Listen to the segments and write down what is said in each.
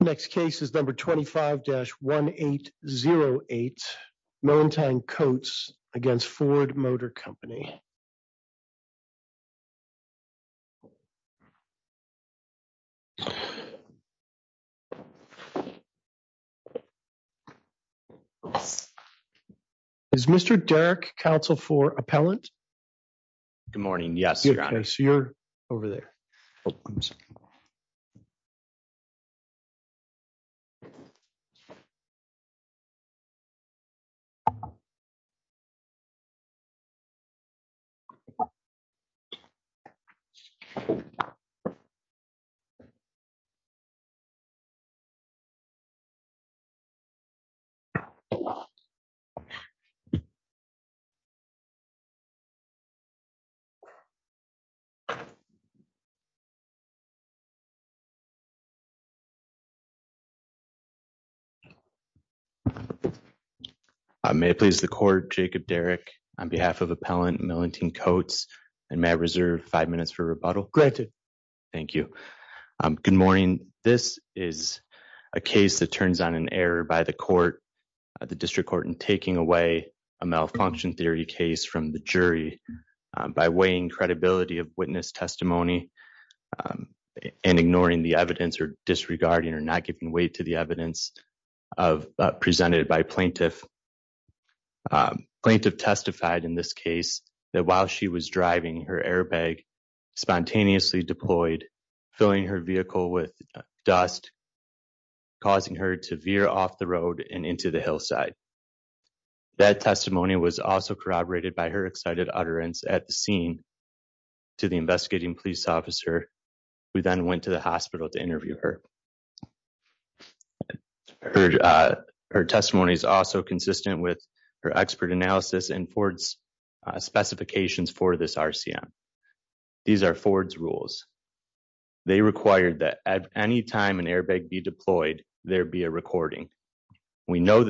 Next case is number 25-1808 Mellentine Coates v. Ford Motor Company. Next case is number 26-1818 Mellentine Coates v. Ford Motor Company. Next case is number 27-1818 Mellentine Coates v. Ford Motor Company. Next case is number 27-1818 Mellentine Coates v. Ford Motor Company. Next case is number 27-1818 Mellentine Coates v. Ford Motor Company. Next case is number 27-1818 Mellentine Coates v. Ford Motor Company.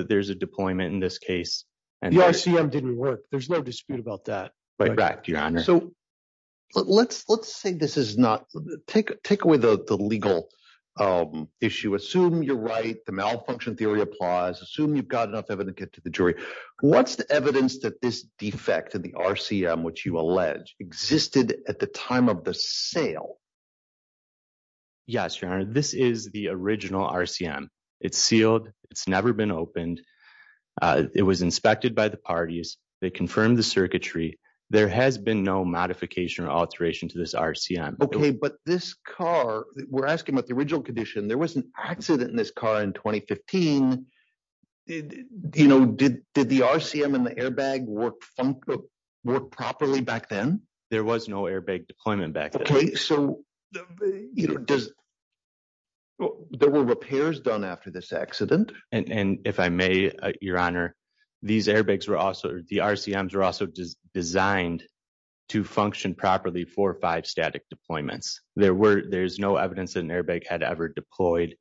What's the evidence that this defect in the RCM, which you allege existed at the time of the sale? Yes, your honor. This is the original RCM. It's sealed. It's never been opened. It was inspected by the parties. They confirmed the circuitry. There has been no modification or alteration to this RCM. Okay, but this car, we're asking about the original condition. There was an accident in this car in 2015. Did the RCM and the airbag work properly back then? There was no airbag deployment back then. Okay, so there were repairs done after this accident. And if I may, your honor, the RCMs were also designed to function properly for five static deployments. There's no evidence that an airbag had ever deployed,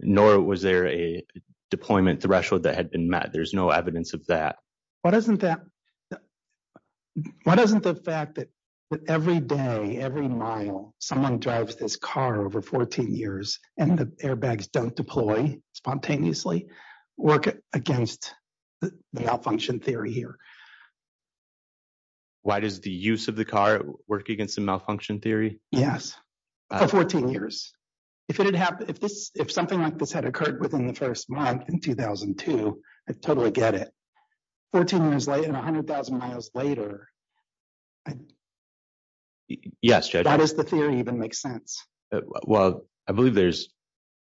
nor was there a deployment threshold that had been met. There's no evidence of that. Why doesn't the fact that every day, every mile, someone drives this car over 14 years and the airbags don't deploy spontaneously work against the malfunction theory here? Why does the use of the car work against the malfunction theory? Yes, for 14 years. If something like this had occurred within the first month in 2002, I totally get it. 14 years later and 100,000 miles later, does the theory even make sense? Well, I believe there's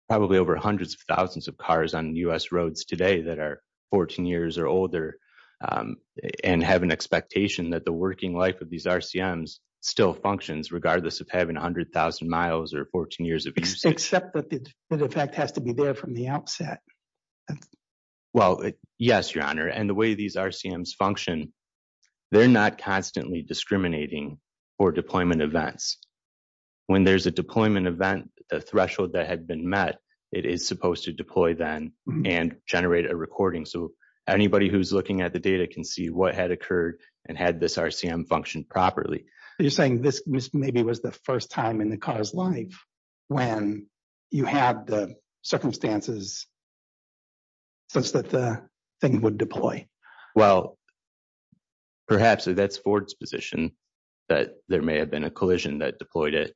probably over hundreds of thousands of cars on U.S. roads today that are 14 years or older and have an expectation that the working life of these RCMs still functions regardless of having 100,000 miles or 14 years of use. Except that the defect has to be there from the outset. Well, yes, your honor. And the way these RCMs function, they're not constantly discriminating for deployment events. When there's a deployment event, the threshold that had been met, it is supposed to deploy then and generate a recording. So anybody who's looking at the data can see what had occurred and had this RCM function properly. You're saying this maybe was the first time in the car's life when you had the circumstances such that the thing would deploy? Well, perhaps that's Ford's position that there may have been a collision that deployed it.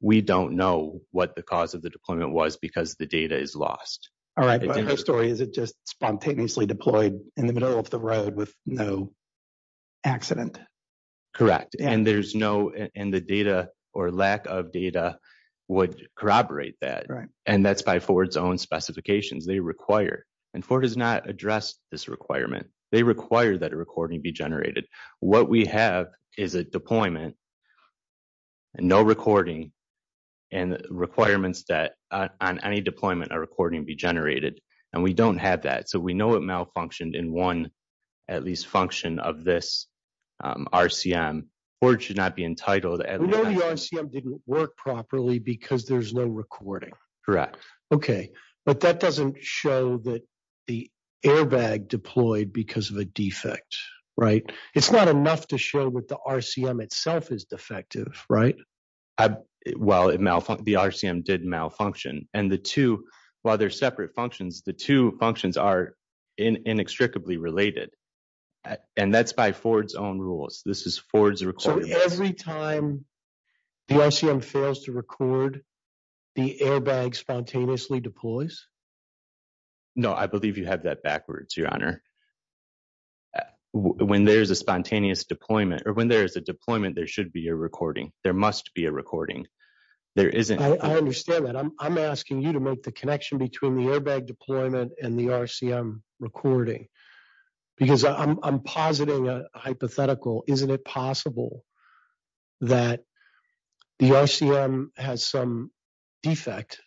We don't know what the cause of the deployment was because the data is lost. All right. But the story is it just spontaneously deployed in the middle of the road with no accident? Correct. And the data or lack of data would corroborate that. Right. And that's by Ford's own specifications. They require. And Ford has not addressed this requirement. They require that a recording be generated. What we have is a deployment, no recording, and requirements that on any deployment, a recording be generated. And we don't have that. So we know it malfunctioned in one at least function of this RCM. Ford should not be entitled. We know your RCM didn't work properly because there's no recording. Correct. Okay. But that doesn't show that the airbag deployed because of a defect, right? It's not enough to show what the RCM itself is defective, right? Well, the RCM did malfunction. And the two, while they're separate functions, the two functions are inextricably related. And that's by Ford's own rules. This is Ford's. So every time the RCM fails to record, the airbag spontaneously deploys? No, I believe you have that backwards, Your Honor. When there's a spontaneous deployment or when there is a deployment, there should be a recording. There must be a recording. There isn't. I understand that. I'm asking you to make the connection between the airbag deployment and the RCM recording because I'm positing a hypothetical. Isn't it possible that the RCM has some defect?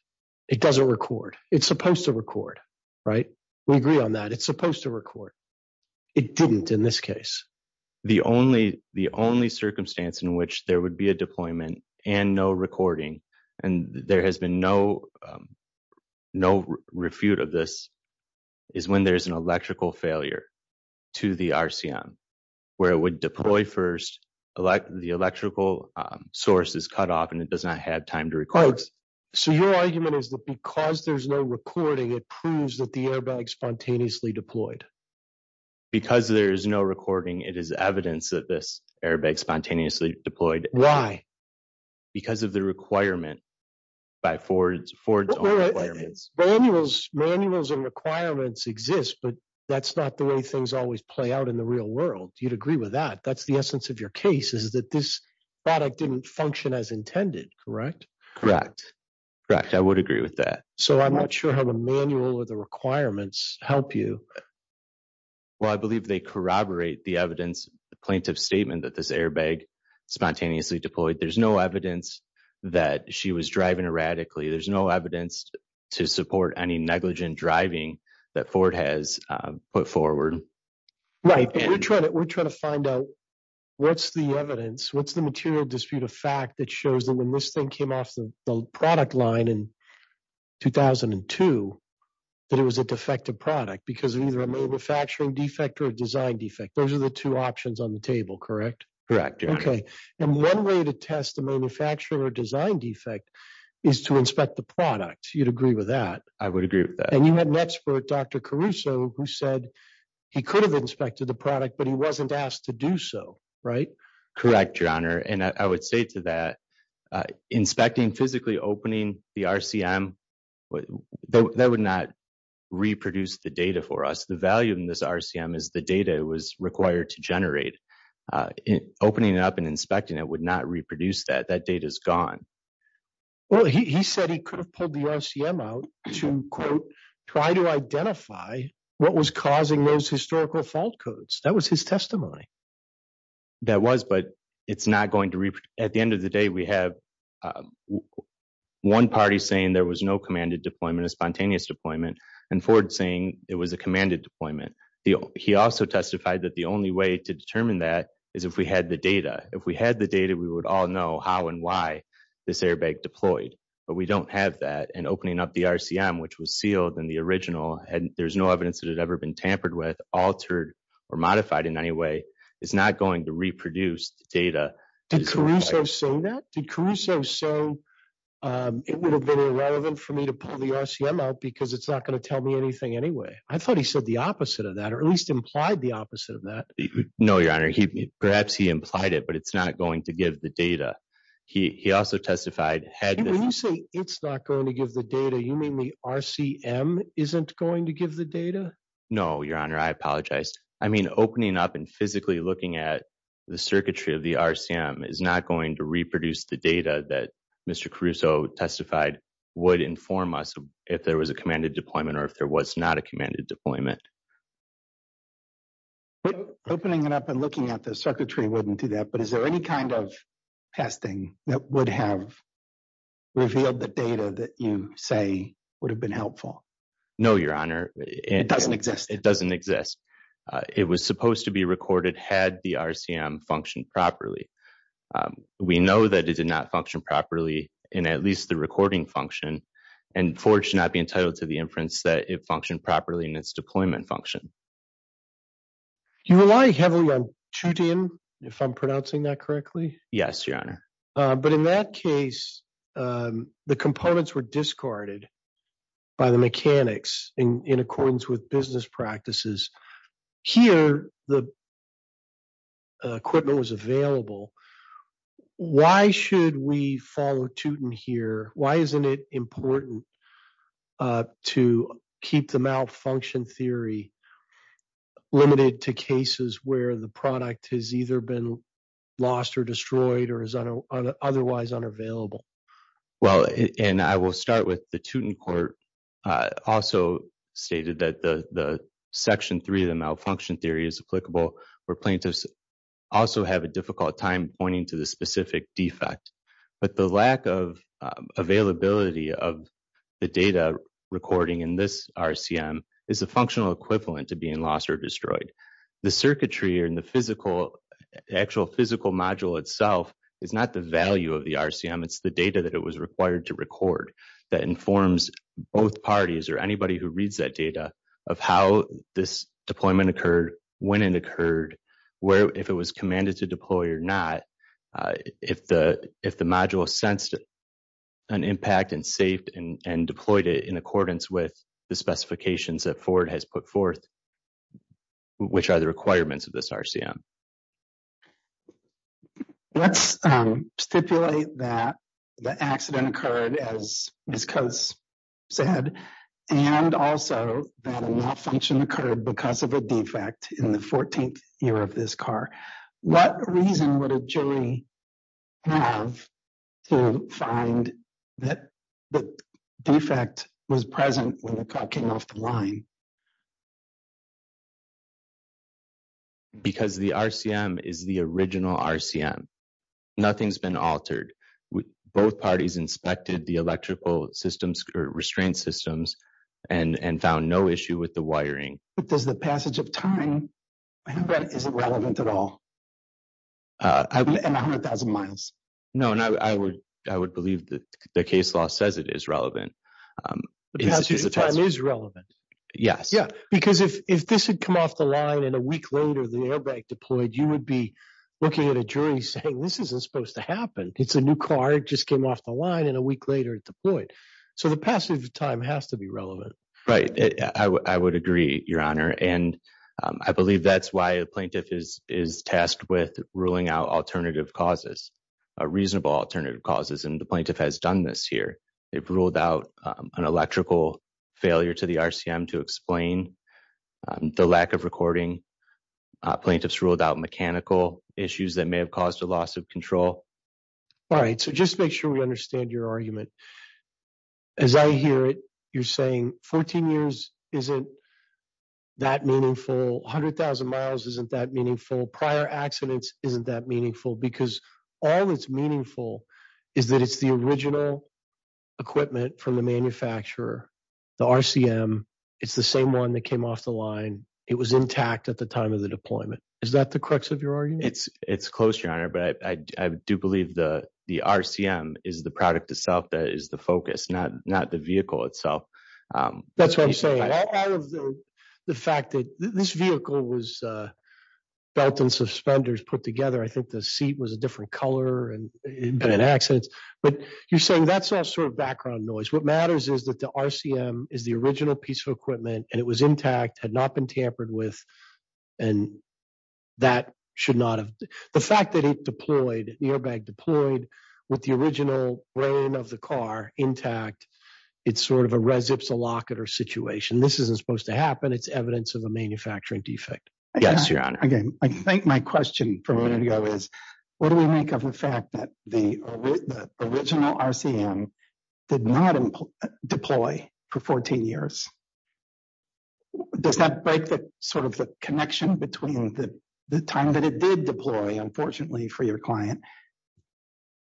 It doesn't record. It's supposed to record, right? We agree on that. It's supposed to record. It didn't in this case. The only circumstance in which there would be a deployment and no recording, and there has been no refute of this, is when there's an electrical failure to the RCM where it would deploy first, the electrical source is cut off and it does not have time to record. So your argument is that because there's no recording, it proves that airbag spontaneously deployed? Because there is no recording, it is evidence that this airbag spontaneously deployed. Why? Because of the requirement by Ford's own requirements. Manuals and requirements exist, but that's not the way things always play out in the real world. You'd agree with that. That's the essence of your case is that this product didn't function as intended, correct? Correct. I would agree with that. So I'm not sure how the manual or the requirements help you. Well, I believe they corroborate the evidence plaintiff statement that this airbag spontaneously deployed. There's no evidence that she was driving erratically. There's no evidence to support any negligent driving that Ford has put forward. Right. We're trying to find out what's the evidence, what's the material dispute of fact that shows that when this thing came off the product line in 2002, that it was a defective product because of either a manufacturing defect or a design defect. Those are the two options on the table, correct? Correct. Okay. And one way to test the manufacturer design defect is to inspect the product. You'd agree with that? I would agree with that. And you had an expert, Dr. Caruso, who said he could have inspected the product, but he wasn't asked to do so, right? Correct, Your Honor. And I would say to that, inspecting, physically opening the RCM, that would not reproduce the data for us. The value in this RCM is the data it was required to generate. Opening it up and inspecting it would not reproduce that. That data's gone. Well, he said he could have pulled the RCM out to, quote, try to identify what was causing those historical fault codes. That was his testimony. That was, but it's not going to reproduce. At the end of the day, we have one party saying there was no commanded deployment, a spontaneous deployment, and Ford saying it was a commanded deployment. He also testified that the only way to determine that is if we had the data. If we had the data, we would all know how and why this airbag deployed, but we don't have that. And opening up the RCM, which was sealed in the original, there's no evidence that it had ever been tampered with, altered, or modified in any way, is not going to reproduce the data. Did Caruso say that? Did Caruso say, it would have been irrelevant for me to pull the RCM out because it's not going to tell me anything anyway? I thought he said the opposite of that, or at least implied the opposite of that. No, Your Honor. Perhaps he implied it, but it's not going to give the data. He also testified... When you say it's not going to give the data, you mean the RCM isn't going to give the data? No, Your Honor. I apologize. I mean, opening up and physically looking at the circuitry of the RCM is not going to reproduce the data that Mr. Caruso testified would inform us if there was a commanded deployment or if there was not a commanded deployment. Opening it up and looking at the circuitry wouldn't do that, but is there any kind of testing that would have revealed the data that you say would have been helpful? No, Your Honor. It doesn't exist? It doesn't exist. It was supposed to be recorded had the RCM functioned properly. We know that it did not function properly in at least the recording function, and FORGE should not be entitled to the inference that it functioned properly in function. You rely heavily on TUTIN, if I'm pronouncing that correctly? Yes, Your Honor. But in that case, the components were discarded by the mechanics in accordance with business practices. Here, the equipment was available. Why should we follow TUTIN here? Why isn't it important to keep the malfunction theory limited to cases where the product has either been lost or destroyed or is otherwise unavailable? Well, and I will start with the TUTIN court also stated that the Section 3 of the malfunction theory is applicable where plaintiffs also have a time pointing to the specific defect. But the lack of availability of the data recording in this RCM is a functional equivalent to being lost or destroyed. The circuitry in the actual physical module itself is not the value of the RCM. It's the data that it was required to record that informs both parties or anybody who reads that data of how this deployment occurred, when it occurred, if it was commanded to deploy or not, if the module sensed an impact and saved and deployed it in accordance with the specifications that Ford has put forth, which are the requirements of this RCM. Let's stipulate that the accident occurred as Ms. Coates said and also that a malfunction occurred because of a defect in the 14th year of this car. What reason would a jury have to find that the defect was present when the car came off the line? Because the RCM is the original RCM. Nothing's been altered. Both parties inspected the electrical systems, restraint systems, and found no issue with the wiring. But does the passage of time, I know that isn't relevant at all, in 100,000 miles. No, and I would believe that the case law says it is relevant. The passage of time is relevant. Yes. Yeah, because if this had come off the line and a week later the airbag deployed, you would be looking at a jury saying, this isn't supposed to happen. It's a new car. It just came off the line and a week later it deployed. So the passage of time has to be relevant. Right. I would agree, Your Honor. And I believe that's why a plaintiff is tasked with ruling out alternative causes, reasonable alternative causes. And the plaintiff has done this here. They've ruled out an electrical failure to the RCM to explain the lack of recording. Plaintiffs ruled out mechanical issues that may have caused a loss of control. All right. So just to make sure we understand your argument. As I hear it, you're saying 14 years isn't that meaningful. 100,000 miles isn't that meaningful. Prior accidents isn't that meaningful. Because all that's meaningful is that it's the original equipment from the manufacturer, the RCM. It's the same one that came off the line. It was intact at the time of the deployment. Is that the crux of your argument? It's close, Your Honor. But I do believe the RCM is the product itself that is the focus, not the vehicle itself. That's what I'm saying. Out of the fact that this vehicle was belt and suspenders put together, I think the seat was a different color and it had been in accidents. But you're saying that's sort of background noise. What matters is that the RCM is the original piece of equipment and it was intact, had not been tampered with, and that should not have... The fact that it deployed, the airbag deployed with the original brain of the car intact, it's sort of a res ipsa locator situation. This isn't supposed to happen. It's evidence of a manufacturing defect. Yes, Your Honor. Again, I think my question from a minute ago is, what do we make of the fact that the original RCM did not deploy for 14 years? Does that break the connection between the time that it did deploy, unfortunately, for your client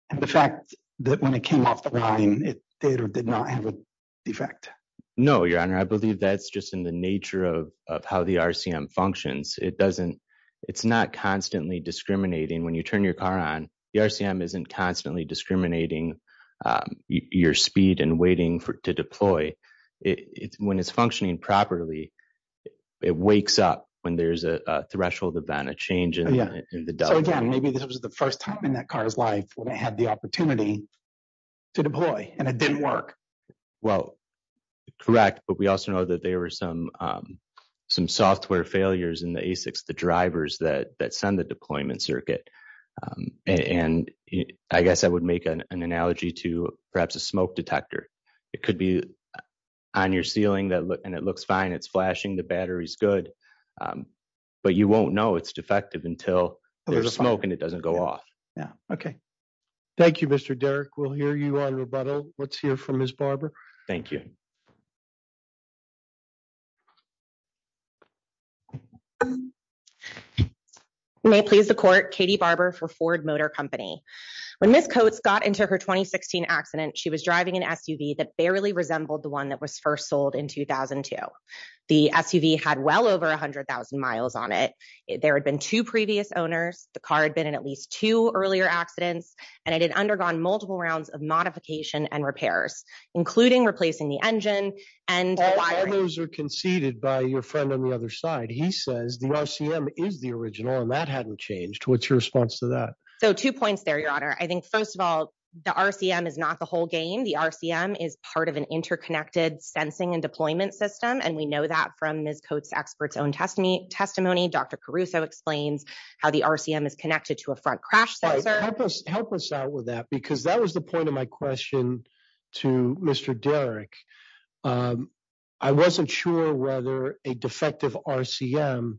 and the fact that when it came off the line, it did or did not have a defect? No, Your Honor. I believe that's just in the nature of how the RCM functions. It's not constantly discriminating. When you turn your car on, the RCM isn't constantly discriminating your speed and waiting to deploy. When it's functioning properly, it wakes up when there's a threshold event, a change in the duct. So again, maybe this was the first time in that car's life when it had the opportunity to deploy and it didn't work. Well, correct. But we also know that there were some software failures in the ASICs, the drivers that send the deployment circuit. And I guess I would make an analogy to perhaps a smoke detector. It could be on your ceiling and it looks fine, it's flashing, the battery's good, but you won't know it's defective until there's smoke and it doesn't go off. Yeah, okay. Thank you, Mr. Derrick. We'll hear you on rebuttal. Let's hear from Ms. Barber. Thank you. You may please the court. Katie Barber for Ford Motor Company. When Ms. Coates got into her 2016 accident, she was driving an SUV that barely resembled the one that was first sold in 2002. The SUV had well over 100,000 miles on it. There had been two previous owners, the car had been in at least two earlier accidents, and it had undergone multiple rounds of modification and repairs, including replacing the engine and wiring. Conceded by your friend on the other side. He says the RCM is the original and that hadn't changed. What's your response to that? Two points there, Your Honor. I think, first of all, the RCM is not the whole game. The RCM is part of an interconnected sensing and deployment system, and we know that from Ms. Coates' expert's own testimony. Dr. Caruso explains how the RCM is connected to a front crash sensor. Help us out with that because that was the point of my question to Mr. Derrick. I wasn't sure whether a defective RCM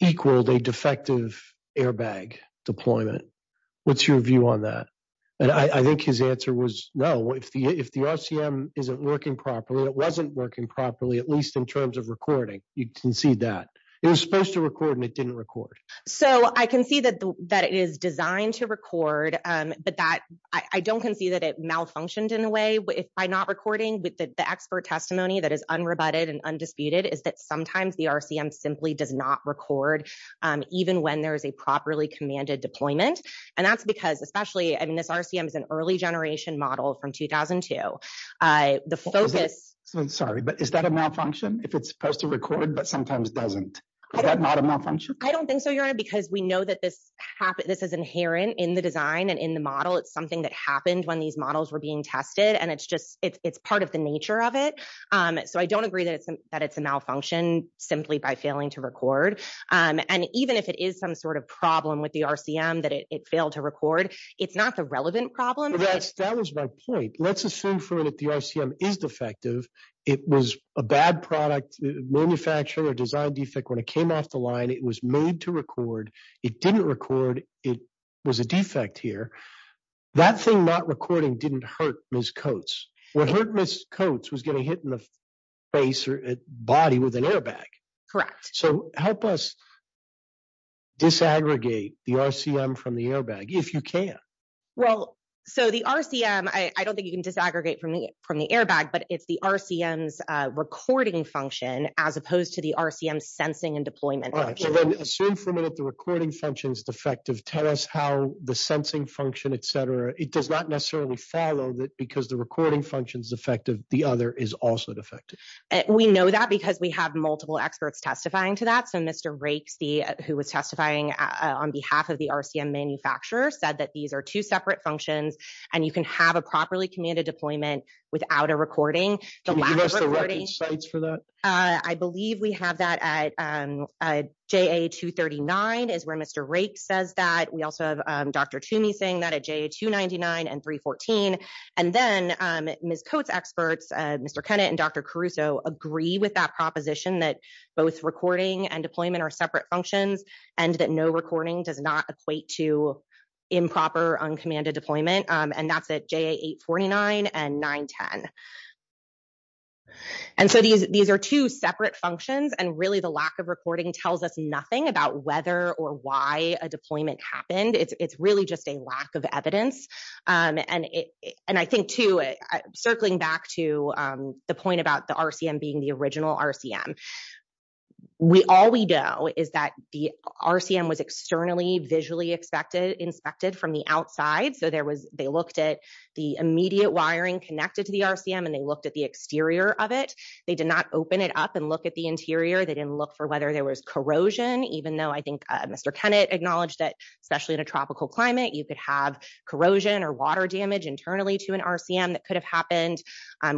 equaled a defective airbag deployment. What's your view on that? I think his answer was no. If the RCM isn't working properly, it wasn't working properly, at least in terms of recording. You concede that. It was supposed to record and it didn't record. So I can see that it is designed to record, but I don't concede that it malfunctioned in a way by not recording. The expert testimony that is unrebutted and undisputed is that sometimes the RCM simply does not record even when there is a properly commanded deployment. This RCM is an early generation model from 2002. Is that a malfunction if it's supposed to record but sometimes doesn't? Is that not a malfunction? I don't think so, Your Honor, because we know that this is inherent in the design and in the model. It's something that happened when these being tested. It's part of the nature of it. So I don't agree that it's a malfunction simply by failing to record. Even if it is some sort of problem with the RCM that it failed to record, it's not the relevant problem. That was my point. Let's assume that the RCM is defective. It was a bad product, manufacturer design defect. When it came off the line, it was made to record. It didn't record. It was a defect here. That thing not recording didn't hurt Ms. Coates. What hurt Ms. Coates was getting hit in the face or body with an airbag. Correct. So help us disaggregate the RCM from the airbag if you can. Well, so the RCM, I don't think you can disaggregate from the airbag, but it's the RCM's recording function as opposed to the RCM's sensing and deployment. Assume for a minute, the recording function is defective. Tell us how the sensing function, et cetera, it does not necessarily follow that because the recording function is effective. The other is also defective. We know that because we have multiple experts testifying to that. So Mr. Raikes, who was testifying on behalf of the RCM manufacturer, said that these are two separate functions and you can have a properly commanded deployment without a recording. Can you give us the record sites for that? I believe we have that at JA-239 is where Mr. Raikes says that. We also have Dr. Toomey saying that at JA-299 and 314. And then Ms. Coates experts, Mr. Kennett and Dr. Caruso agree with that proposition that both recording and deployment are separate functions and that no recording does not equate to improper uncommanded deployment. And that's at JA-849 and 910. And so these are two separate functions and really the lack of recording tells us nothing about whether or why a deployment happened. It's really just a lack of evidence. And I think too, circling back to the point about the RCM being the original RCM, all we know is that the RCM was externally visually inspected from the outside. So they looked at the immediate wiring connected to the RCM and they looked at the exterior of it. They did not open it up and look at the interior. They didn't look for whether there was corrosion, even though I think Mr. Kennett acknowledged that, especially in a tropical climate, you could have corrosion or water damage internally to an RCM that could have happened.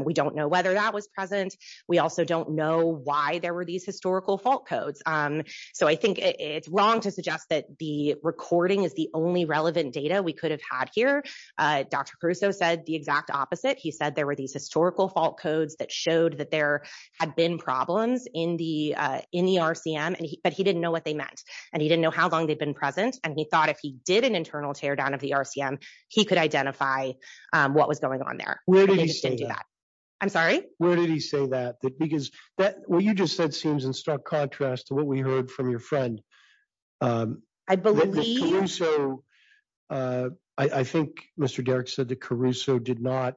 We don't know whether that was present. We also don't why there were these historical fault codes. So I think it's wrong to suggest that the recording is the only relevant data we could have had here. Dr. Caruso said the exact opposite. He said there were these historical fault codes that showed that there had been problems in the RCM, but he didn't know what they meant. And he didn't know how long they'd been present. And he thought if he did an internal teardown of the RCM, he could identify what was going on there. Where did he say that? I'm sorry? Where did he say that? Because what you just said seems in stark contrast to what we heard from your friend. I think Mr. Derrick said that Caruso did not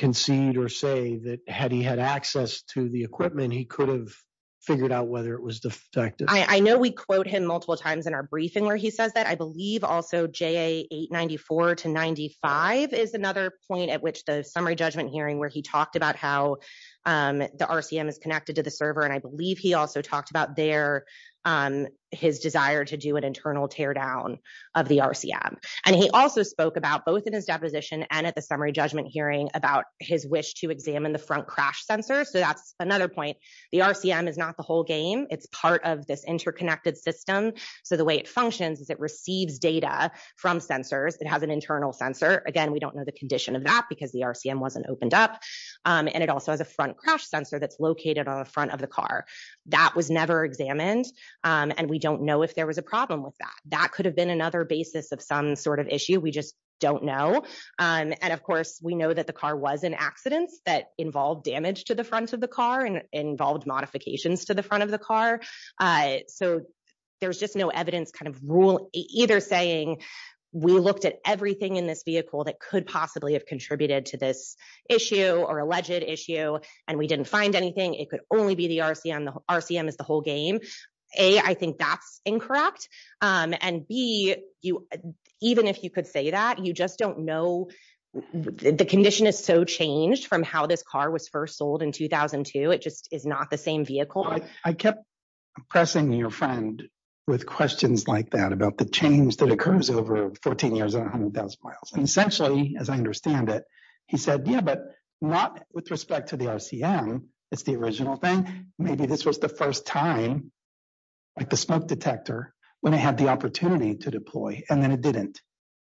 concede or say that had he had access to the equipment, he could have figured out whether it was defective. I know we quote him multiple times in our briefing where he says that. I believe also 894 to 95 is another point at which the summary judgment hearing where he talked about how the RCM is connected to the server. And I believe he also talked about there his desire to do an internal teardown of the RCM. And he also spoke about both in his deposition and at the summary judgment hearing about his wish to examine the front crash sensor. So that's another point. The RCM is not the whole game. It's part of this interconnected system. So the way it functions is it receives data from sensors. It has an internal sensor. Again, we don't know the condition of that because the RCM wasn't opened up. And it also has a front crash sensor that's located on the front of the car. That was never examined. And we don't know if there was a problem with that. That could have been another basis of some sort of issue. We just don't know. And of course, we know that the car was in accidents that involved damage to the front of the car and involved modifications to the front of the car. So there's just no evidence either saying we looked at everything in this vehicle that could possibly have contributed to this issue or alleged issue, and we didn't find anything. It could only be the RCM. The RCM is the whole game. A, I think that's incorrect. And B, even if you could say that, you just don't know. The condition is so changed from how this car was first sold in 2002. It just is not the same vehicle. I kept pressing your friend with questions like that about the change that occurs over 14 years and 100,000 miles. And essentially, as I understand it, he said, yeah, but not with respect to the RCM. It's the original thing. Maybe this was the first time, like the smoke detector, when I had the opportunity to deploy. And then it didn't.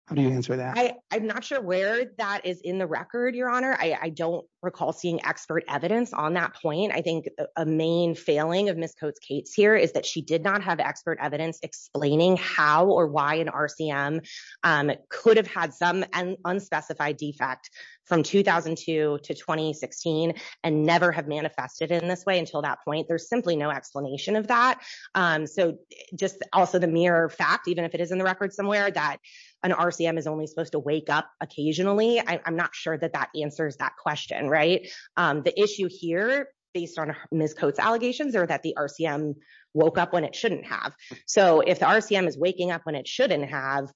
How do you answer that? I'm not sure where that is in the record, Your Honor. I don't recall seeing expert evidence on that point. I think a main failing of Ms. Coates-Cates here is that she did not have expert evidence explaining how or why an RCM could have had some unspecified defect from 2002 to 2016 and never have manifested in this way until that point. There's simply no explanation of that. So just also the mere fact, even if it is in the record somewhere, that an RCM is only supposed to wake up occasionally, I'm not sure that that answers that question. The issue here, based on Ms. Coates' allegations, are that the RCM woke up when it shouldn't have. So if the RCM is waking up when it shouldn't have,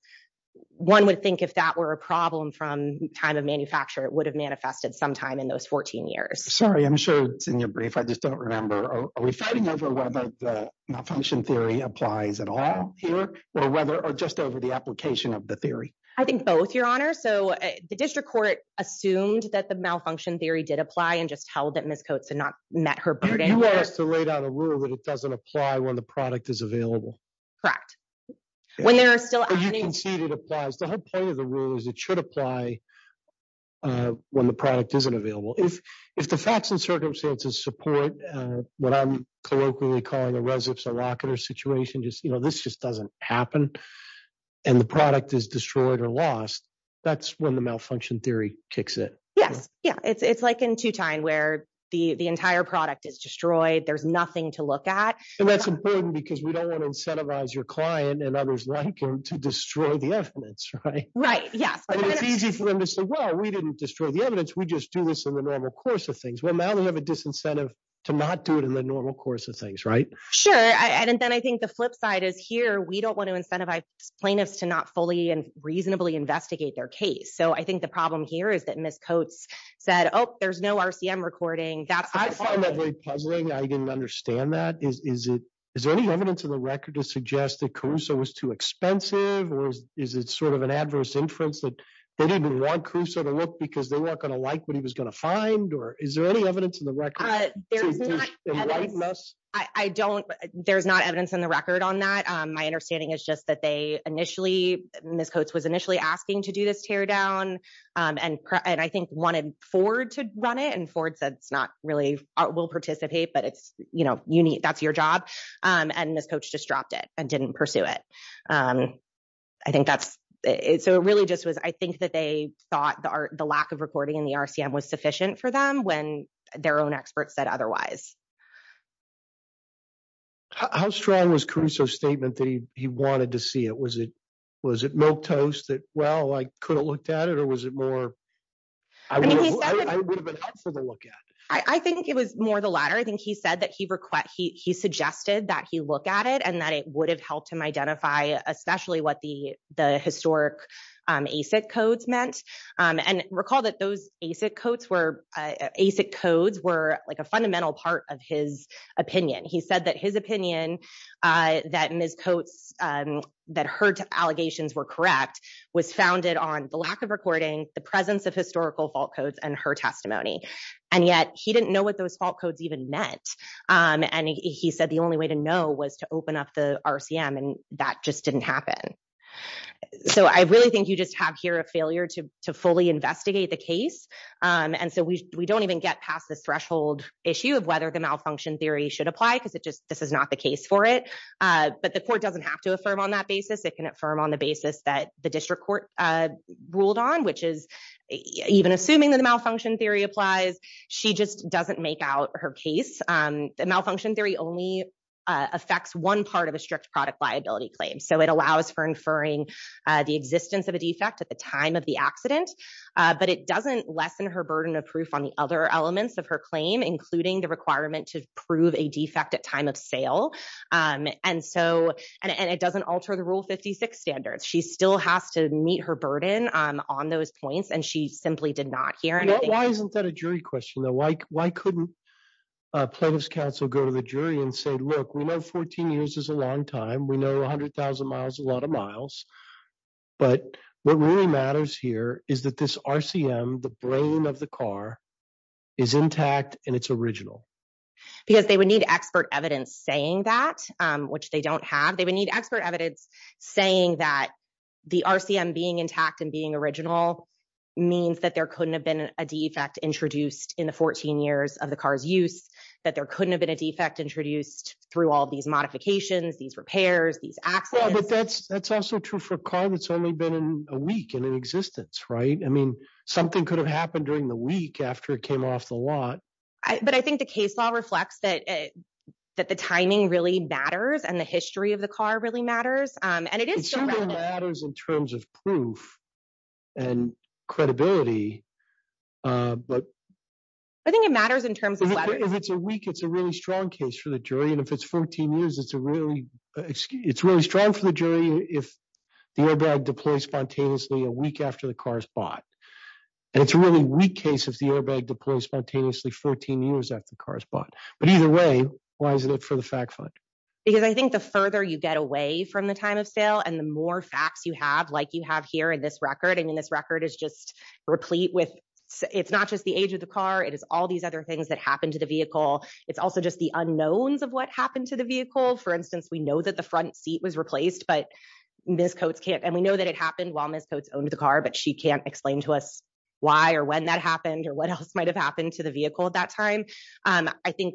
one would think if that were a problem from time of manufacture, it would have manifested sometime in those 14 years. Sorry, I'm sure it's in your brief. I just don't remember. Are we fighting over whether the malfunction theory applies at all here or just over the application of the theory? I think both, Your Honor. So the district court assumed that the malfunction theory did apply and just held that Ms. Coates had not met her burden. You asked to lay down a rule that it doesn't apply when the product is available. Correct. When there are still... You conceded it applies. The whole point of the rule is it should apply when the product isn't available. If the facts and circumstances support what I'm colloquially calling a res ips or rocket or situation, this just doesn't happen, and the product is destroyed or lost, that's when the malfunction theory kicks in. Yes. Yeah. It's like in two-time where the entire product is destroyed. There's nothing to look at. And that's important because we don't want to incentivize your client and others like him to destroy the evidence, right? Right. Yes. I mean, it's easy for them to say, well, we didn't destroy the evidence. We just do this in the normal course of things. Well, now they have a disincentive to not do it in the normal course of things, right? Sure. And then I think the flip side is here, we don't want to incentivize plaintiffs to not fully and reasonably investigate their case. So I think the problem here is that Ms. Coates said, oh, there's no RCM recording. I find that very puzzling. I didn't understand that. Is there any evidence in the record to suggest that Caruso was too expensive or is it sort of an adverse inference that they didn't want Caruso to look because they weren't going to like what he was going to find? Or is there any evidence in the record? There's not evidence in the record on that. My understanding is just that Ms. Coates was initially asking to do this teardown and I think wanted Ford to run it. And Ford said, it's not really, we'll participate, but that's your job. And Ms. Coates just dropped it and didn't pursue it. So it really just was, I think that they thought the lack of recording in the RCM was sufficient for them when their own experts said otherwise. How strong was Caruso's statement that he wanted to see it? Was it milk toast that, well, I could have looked at it or was it more, I would have been up for the look at it. I think it was more the latter. I think he said that he suggested that he look at it and that it would have helped him identify, especially what the historic ACIC codes meant. And recall that those ACIC codes were a fundamental part of his opinion. He said that his opinion that Ms. Coates, that her allegations were correct, was founded on the lack of recording, the presence of historical fault codes and her testimony. And yet he didn't know what those fault codes even meant. And he said the only way to know was open up the RCM and that just didn't happen. So I really think you just have here a failure to fully investigate the case. And so we don't even get past this threshold issue of whether the malfunction theory should apply because this is not the case for it. But the court doesn't have to affirm on that basis. It can affirm on the basis that the district court ruled on, which is even assuming that the malfunction theory applies, she just doesn't make out her case. Malfunction theory only affects one part of a strict product liability claim. So it allows for inferring the existence of a defect at the time of the accident. But it doesn't lessen her burden of proof on the other elements of her claim, including the requirement to prove a defect at time of sale. And it doesn't alter the Rule 56 standards. She still has to meet her burden on those points. And she simply did not hear anything. Why isn't that a jury question? Why couldn't plaintiff's counsel go to the jury and say, look, we know 14 years is a long time. We know 100,000 miles is a lot of miles. But what really matters here is that this RCM, the brain of the car, is intact and it's original. Because they would need expert evidence saying that, which they don't have. They would need expert evidence saying that the RCM being intact and original means that there couldn't have been a defect introduced in the 14 years of the car's use. That there couldn't have been a defect introduced through all of these modifications, these repairs, these accidents. But that's also true for a car that's only been in a week in existence, right? I mean, something could have happened during the week after it came off the lot. But I think the case law reflects that the timing really matters and the history of the car really matters. And it is- It certainly matters in terms of proof and credibility. I think it matters in terms of- If it's a week, it's a really strong case for the jury. And if it's 14 years, it's really strong for the jury if the airbag deploys spontaneously a week after the car is bought. And it's a really weak case if the airbag deploys spontaneously 14 years after the car is bought. But either way, why isn't it for the fact finder? Because I think the further you get away from the time of sale and the more facts you have, like you have here in this record- I mean, this record is just replete with- It's not just the age of the car. It is all these other things that happened to the vehicle. It's also just the unknowns of what happened to the vehicle. For instance, we know that the front seat was replaced, but Ms. Coates can't- And we know that it happened while Ms. Coates owned the car, but she can't explain to us why or when that happened or what else might have happened to the vehicle at that time. I think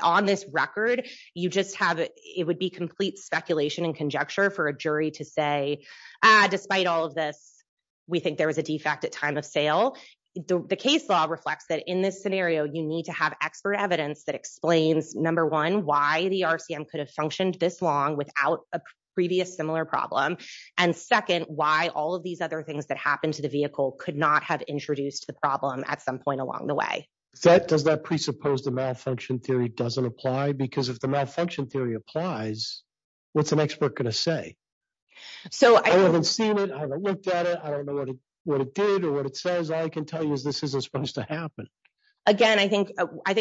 on this record, you just have- It would be complete speculation and conjecture for a jury to say, despite all of this, we think there was a defect at time of sale. The case law reflects that in this scenario, you need to have expert evidence that explains, number one, why the RCM could have functioned this long without a previous similar problem. And second, why all of these other things that happened to the vehicle could not have introduced the problem at some point along the way. Does that presuppose the malfunction theory doesn't apply? Because the malfunction theory applies, what's an expert going to say? I haven't seen it. I haven't looked at it. I don't know what it did or what it says. All I can tell you is this isn't supposed to happen. Again, I think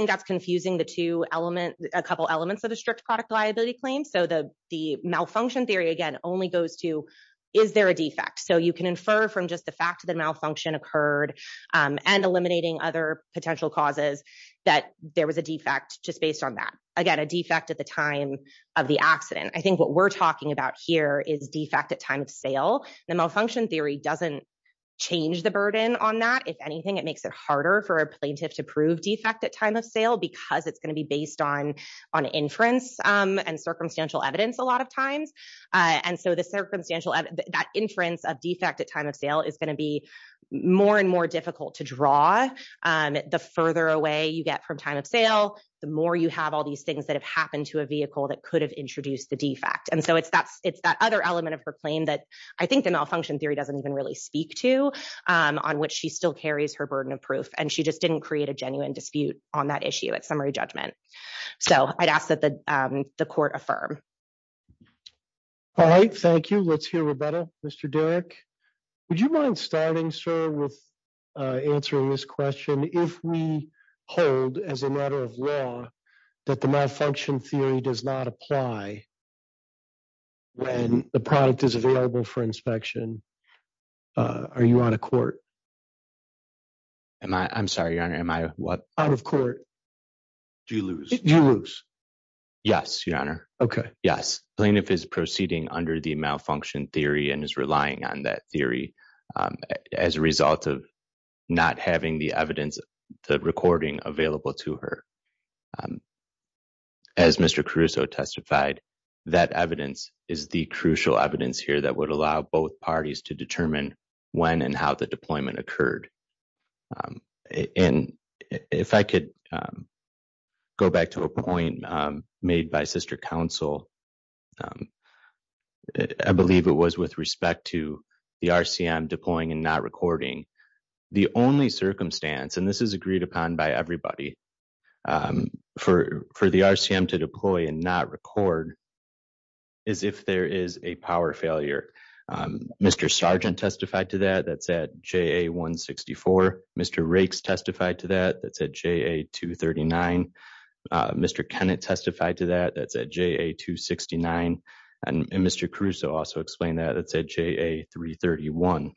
that's confusing the two elements, a couple elements of a strict product liability claim. The malfunction theory, again, only goes to, is there a defect? You can infer from just the fact that a malfunction occurred and eliminating other potential causes that there was a defect just based on that. Again, a defect at the time of the accident. I think what we're talking about here is defect at time of sale. The malfunction theory doesn't change the burden on that. If anything, it makes it harder for a plaintiff to prove defect at time of sale because it's going to be based on inference and circumstantial evidence a lot of times. And so the circumstantial, that inference of defect at time of sale is going to be more and more difficult to draw. The further away you get from time of sale, the more you have all these things that have happened to a vehicle that could have introduced the defect. And so it's that other element of her claim that I think the malfunction theory doesn't even really speak to on which she still carries her burden of proof. And she just didn't create a genuine dispute on that issue at summary judgment. So I'd ask that the court affirm. All right. Thank you. Let's hear. Mr. Derrick, would you mind starting, sir, with answering this question? If we hold as a matter of law that the malfunction theory does not apply when the product is available for inspection, are you on a court? I'm sorry, your honor. Am I what? Out of court. Do you lose? Do you lose? Yes, your honor. Okay. Yes. Plaintiff is proceeding under the malfunction theory and is relying on that theory as a result of not having the evidence, the recording available to her. As Mr. Caruso testified, that evidence is the crucial evidence here that would allow both parties to determine when and how the deployment occurred. And if I could go back to a point made by sister counsel, I believe it was with respect to the RCM deploying and not recording. The only circumstance, and this is agreed upon by everybody for the RCM to deploy and not record is if there is a power failure. Mr. Sargent testified to that. That's at JA164. Mr. Rakes testified to that. That's at JA239. Mr. Kennett testified to that. That's at JA269. And Mr. Caruso also explained that. That's at JA331.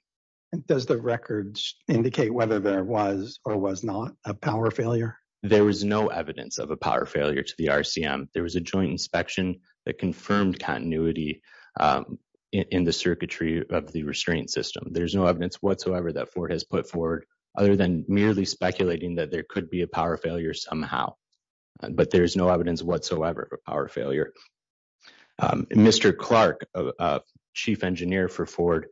Does the record indicate whether there was or was not a power failure? There was no evidence of a power failure to the RCM. There was a joint inspection that confirmed continuity in the circuitry of the restraint system. There's no evidence whatsoever that Ford has put forward other than merely speculating that there could be a power failure somehow. But there's no evidence whatsoever of a power failure. Mr. Clark, chief engineer for Ford,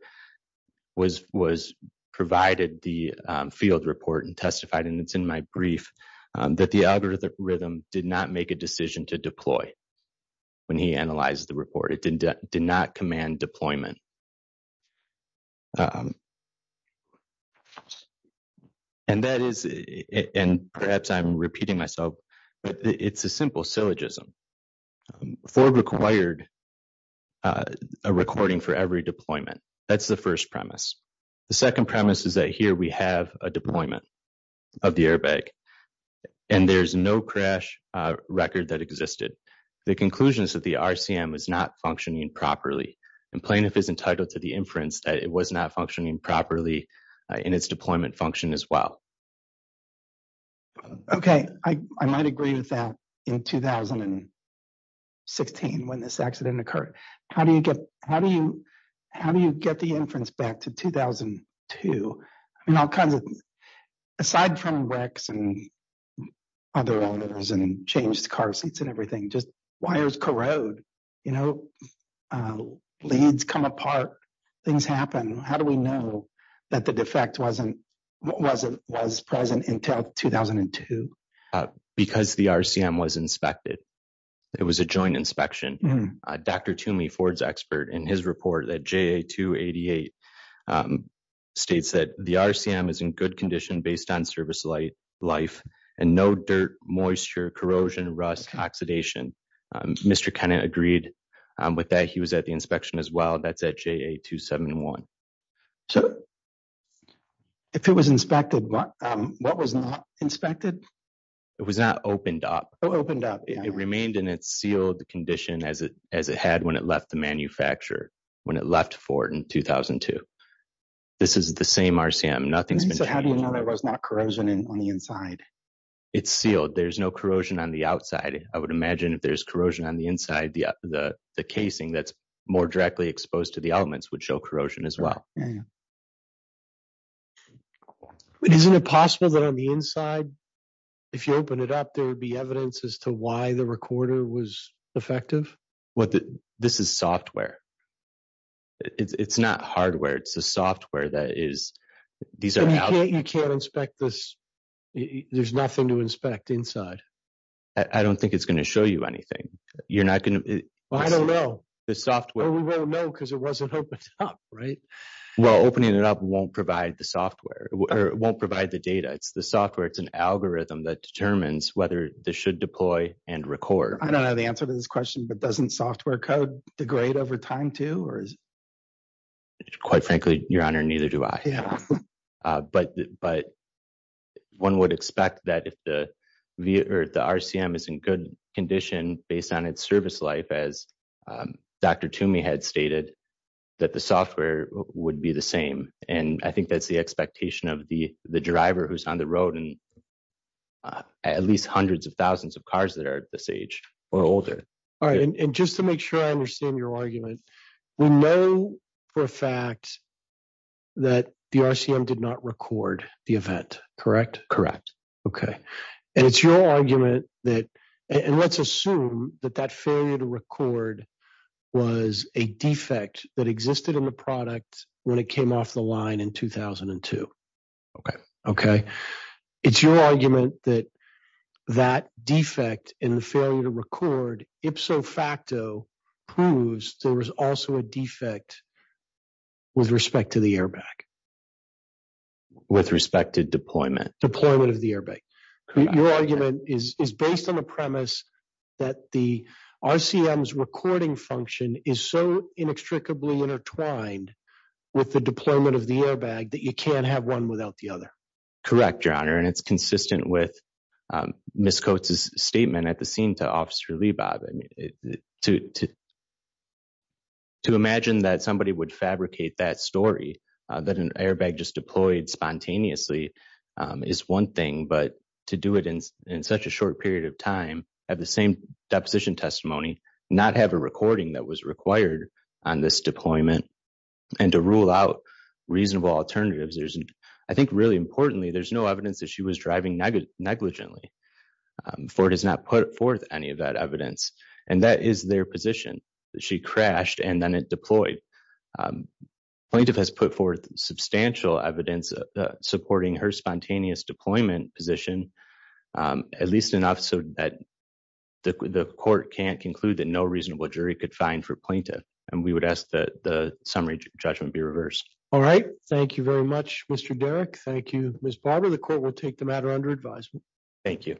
was provided the field report and testified, and it's in my brief, that the algorithm did not make a decision to deploy when he analyzed the report. It did not command deployment. And that is, and perhaps I'm repeating myself, but it's a simple syllogism. Ford required a recording for every deployment. That's the first premise. The second premise is that here we have a deployment of the airbag, and there's no crash record that existed. The conclusion is that the RCM is not functioning properly, and plaintiff is entitled to the inference that it was not properly functioning in its deployment function as well. Okay. I might agree with that in 2016 when this accident occurred. How do you get the inference back to 2002? I mean, all kinds of, aside from wrecks and other errors and changed car seats and everything, just wires corrode. Leads come apart. Things happen. How do we know that the defect wasn't, was present until 2002? Because the RCM was inspected. It was a joint inspection. Dr. Toomey, Ford's expert, in his report that JA-288 states that the RCM is in good condition based on service life and no dirt, moisture, corrosion, rust, oxidation. Mr. Kenna agreed with that. He was at the inspection as well. That's at JA-271. If it was inspected, what was not inspected? It was not opened up. It remained in its sealed condition as it had when it left the manufacturer, when it left Ford in 2002. This is the same RCM. Nothing's been changed. So how do you know there was not corrosion on the inside? It's sealed. There's no corrosion on the outside. I would imagine if there's corrosion on the inside, the casing that's more directly exposed to the elements would show corrosion as well. Isn't it possible that on the inside, if you open it up, there would be evidence as to why the recorder was effective? This is software. It's not hardware. It's the software that is, these are- You can't inspect this. There's nothing to inspect inside. I don't think it's going to show you anything. You're not going to- I don't know. We won't know because it wasn't opened up, right? Well, opening it up won't provide the software or won't provide the data. It's the software. It's an algorithm that determines whether this should deploy and record. I don't know the answer to this question, but doesn't software code degrade over time too? Quite frankly, Your Honor, neither do I, but one would expect that if the RCM is in good condition based on its service life, as Dr. Toomey had stated, that the software would be the same. And I think that's the expectation of the driver who's on the road and at least hundreds of thousands of cars that are this age or older. All right. And just to make sure I understand your argument, we know for a fact that the RCM did not record the event, correct? Correct. Okay. And it's your argument that- And let's assume that that failure to record was a defect that existed in the product when it came off the line in 2002. Okay. Okay. It's your argument that that defect in the failure to record ipso facto proves there was also a defect with respect to the airbag. With respect to deployment? Deployment of the airbag. Your argument is based on the premise that the RCM's recording function is so inextricably intertwined with the deployment of the airbag that you can't have one without the other. Correct, Your Honor. And it's consistent with Ms. Coates' statement at the scene to Officer Leibov. To imagine that somebody would fabricate that story, that an airbag just deployed spontaneously is one thing, but to do it in such a short period of time, have the same deposition testimony, not have a recording that was required on this deployment, and to rule out reasonable alternatives, I think really importantly, there's no evidence that she was driving negligently, for it has not put forth any of that evidence. And that is their position. She crashed and then it deployed. Plaintiff has put forth substantial evidence supporting her spontaneous deployment position, at least enough so that the court can't conclude that no reasonable jury could find for plaintiff. And we would ask that the summary judgment be reversed. All right. Thank you very much, Mr. Derrick. Thank you, Ms. Barber. The court will take the matter under advisement. Thank you.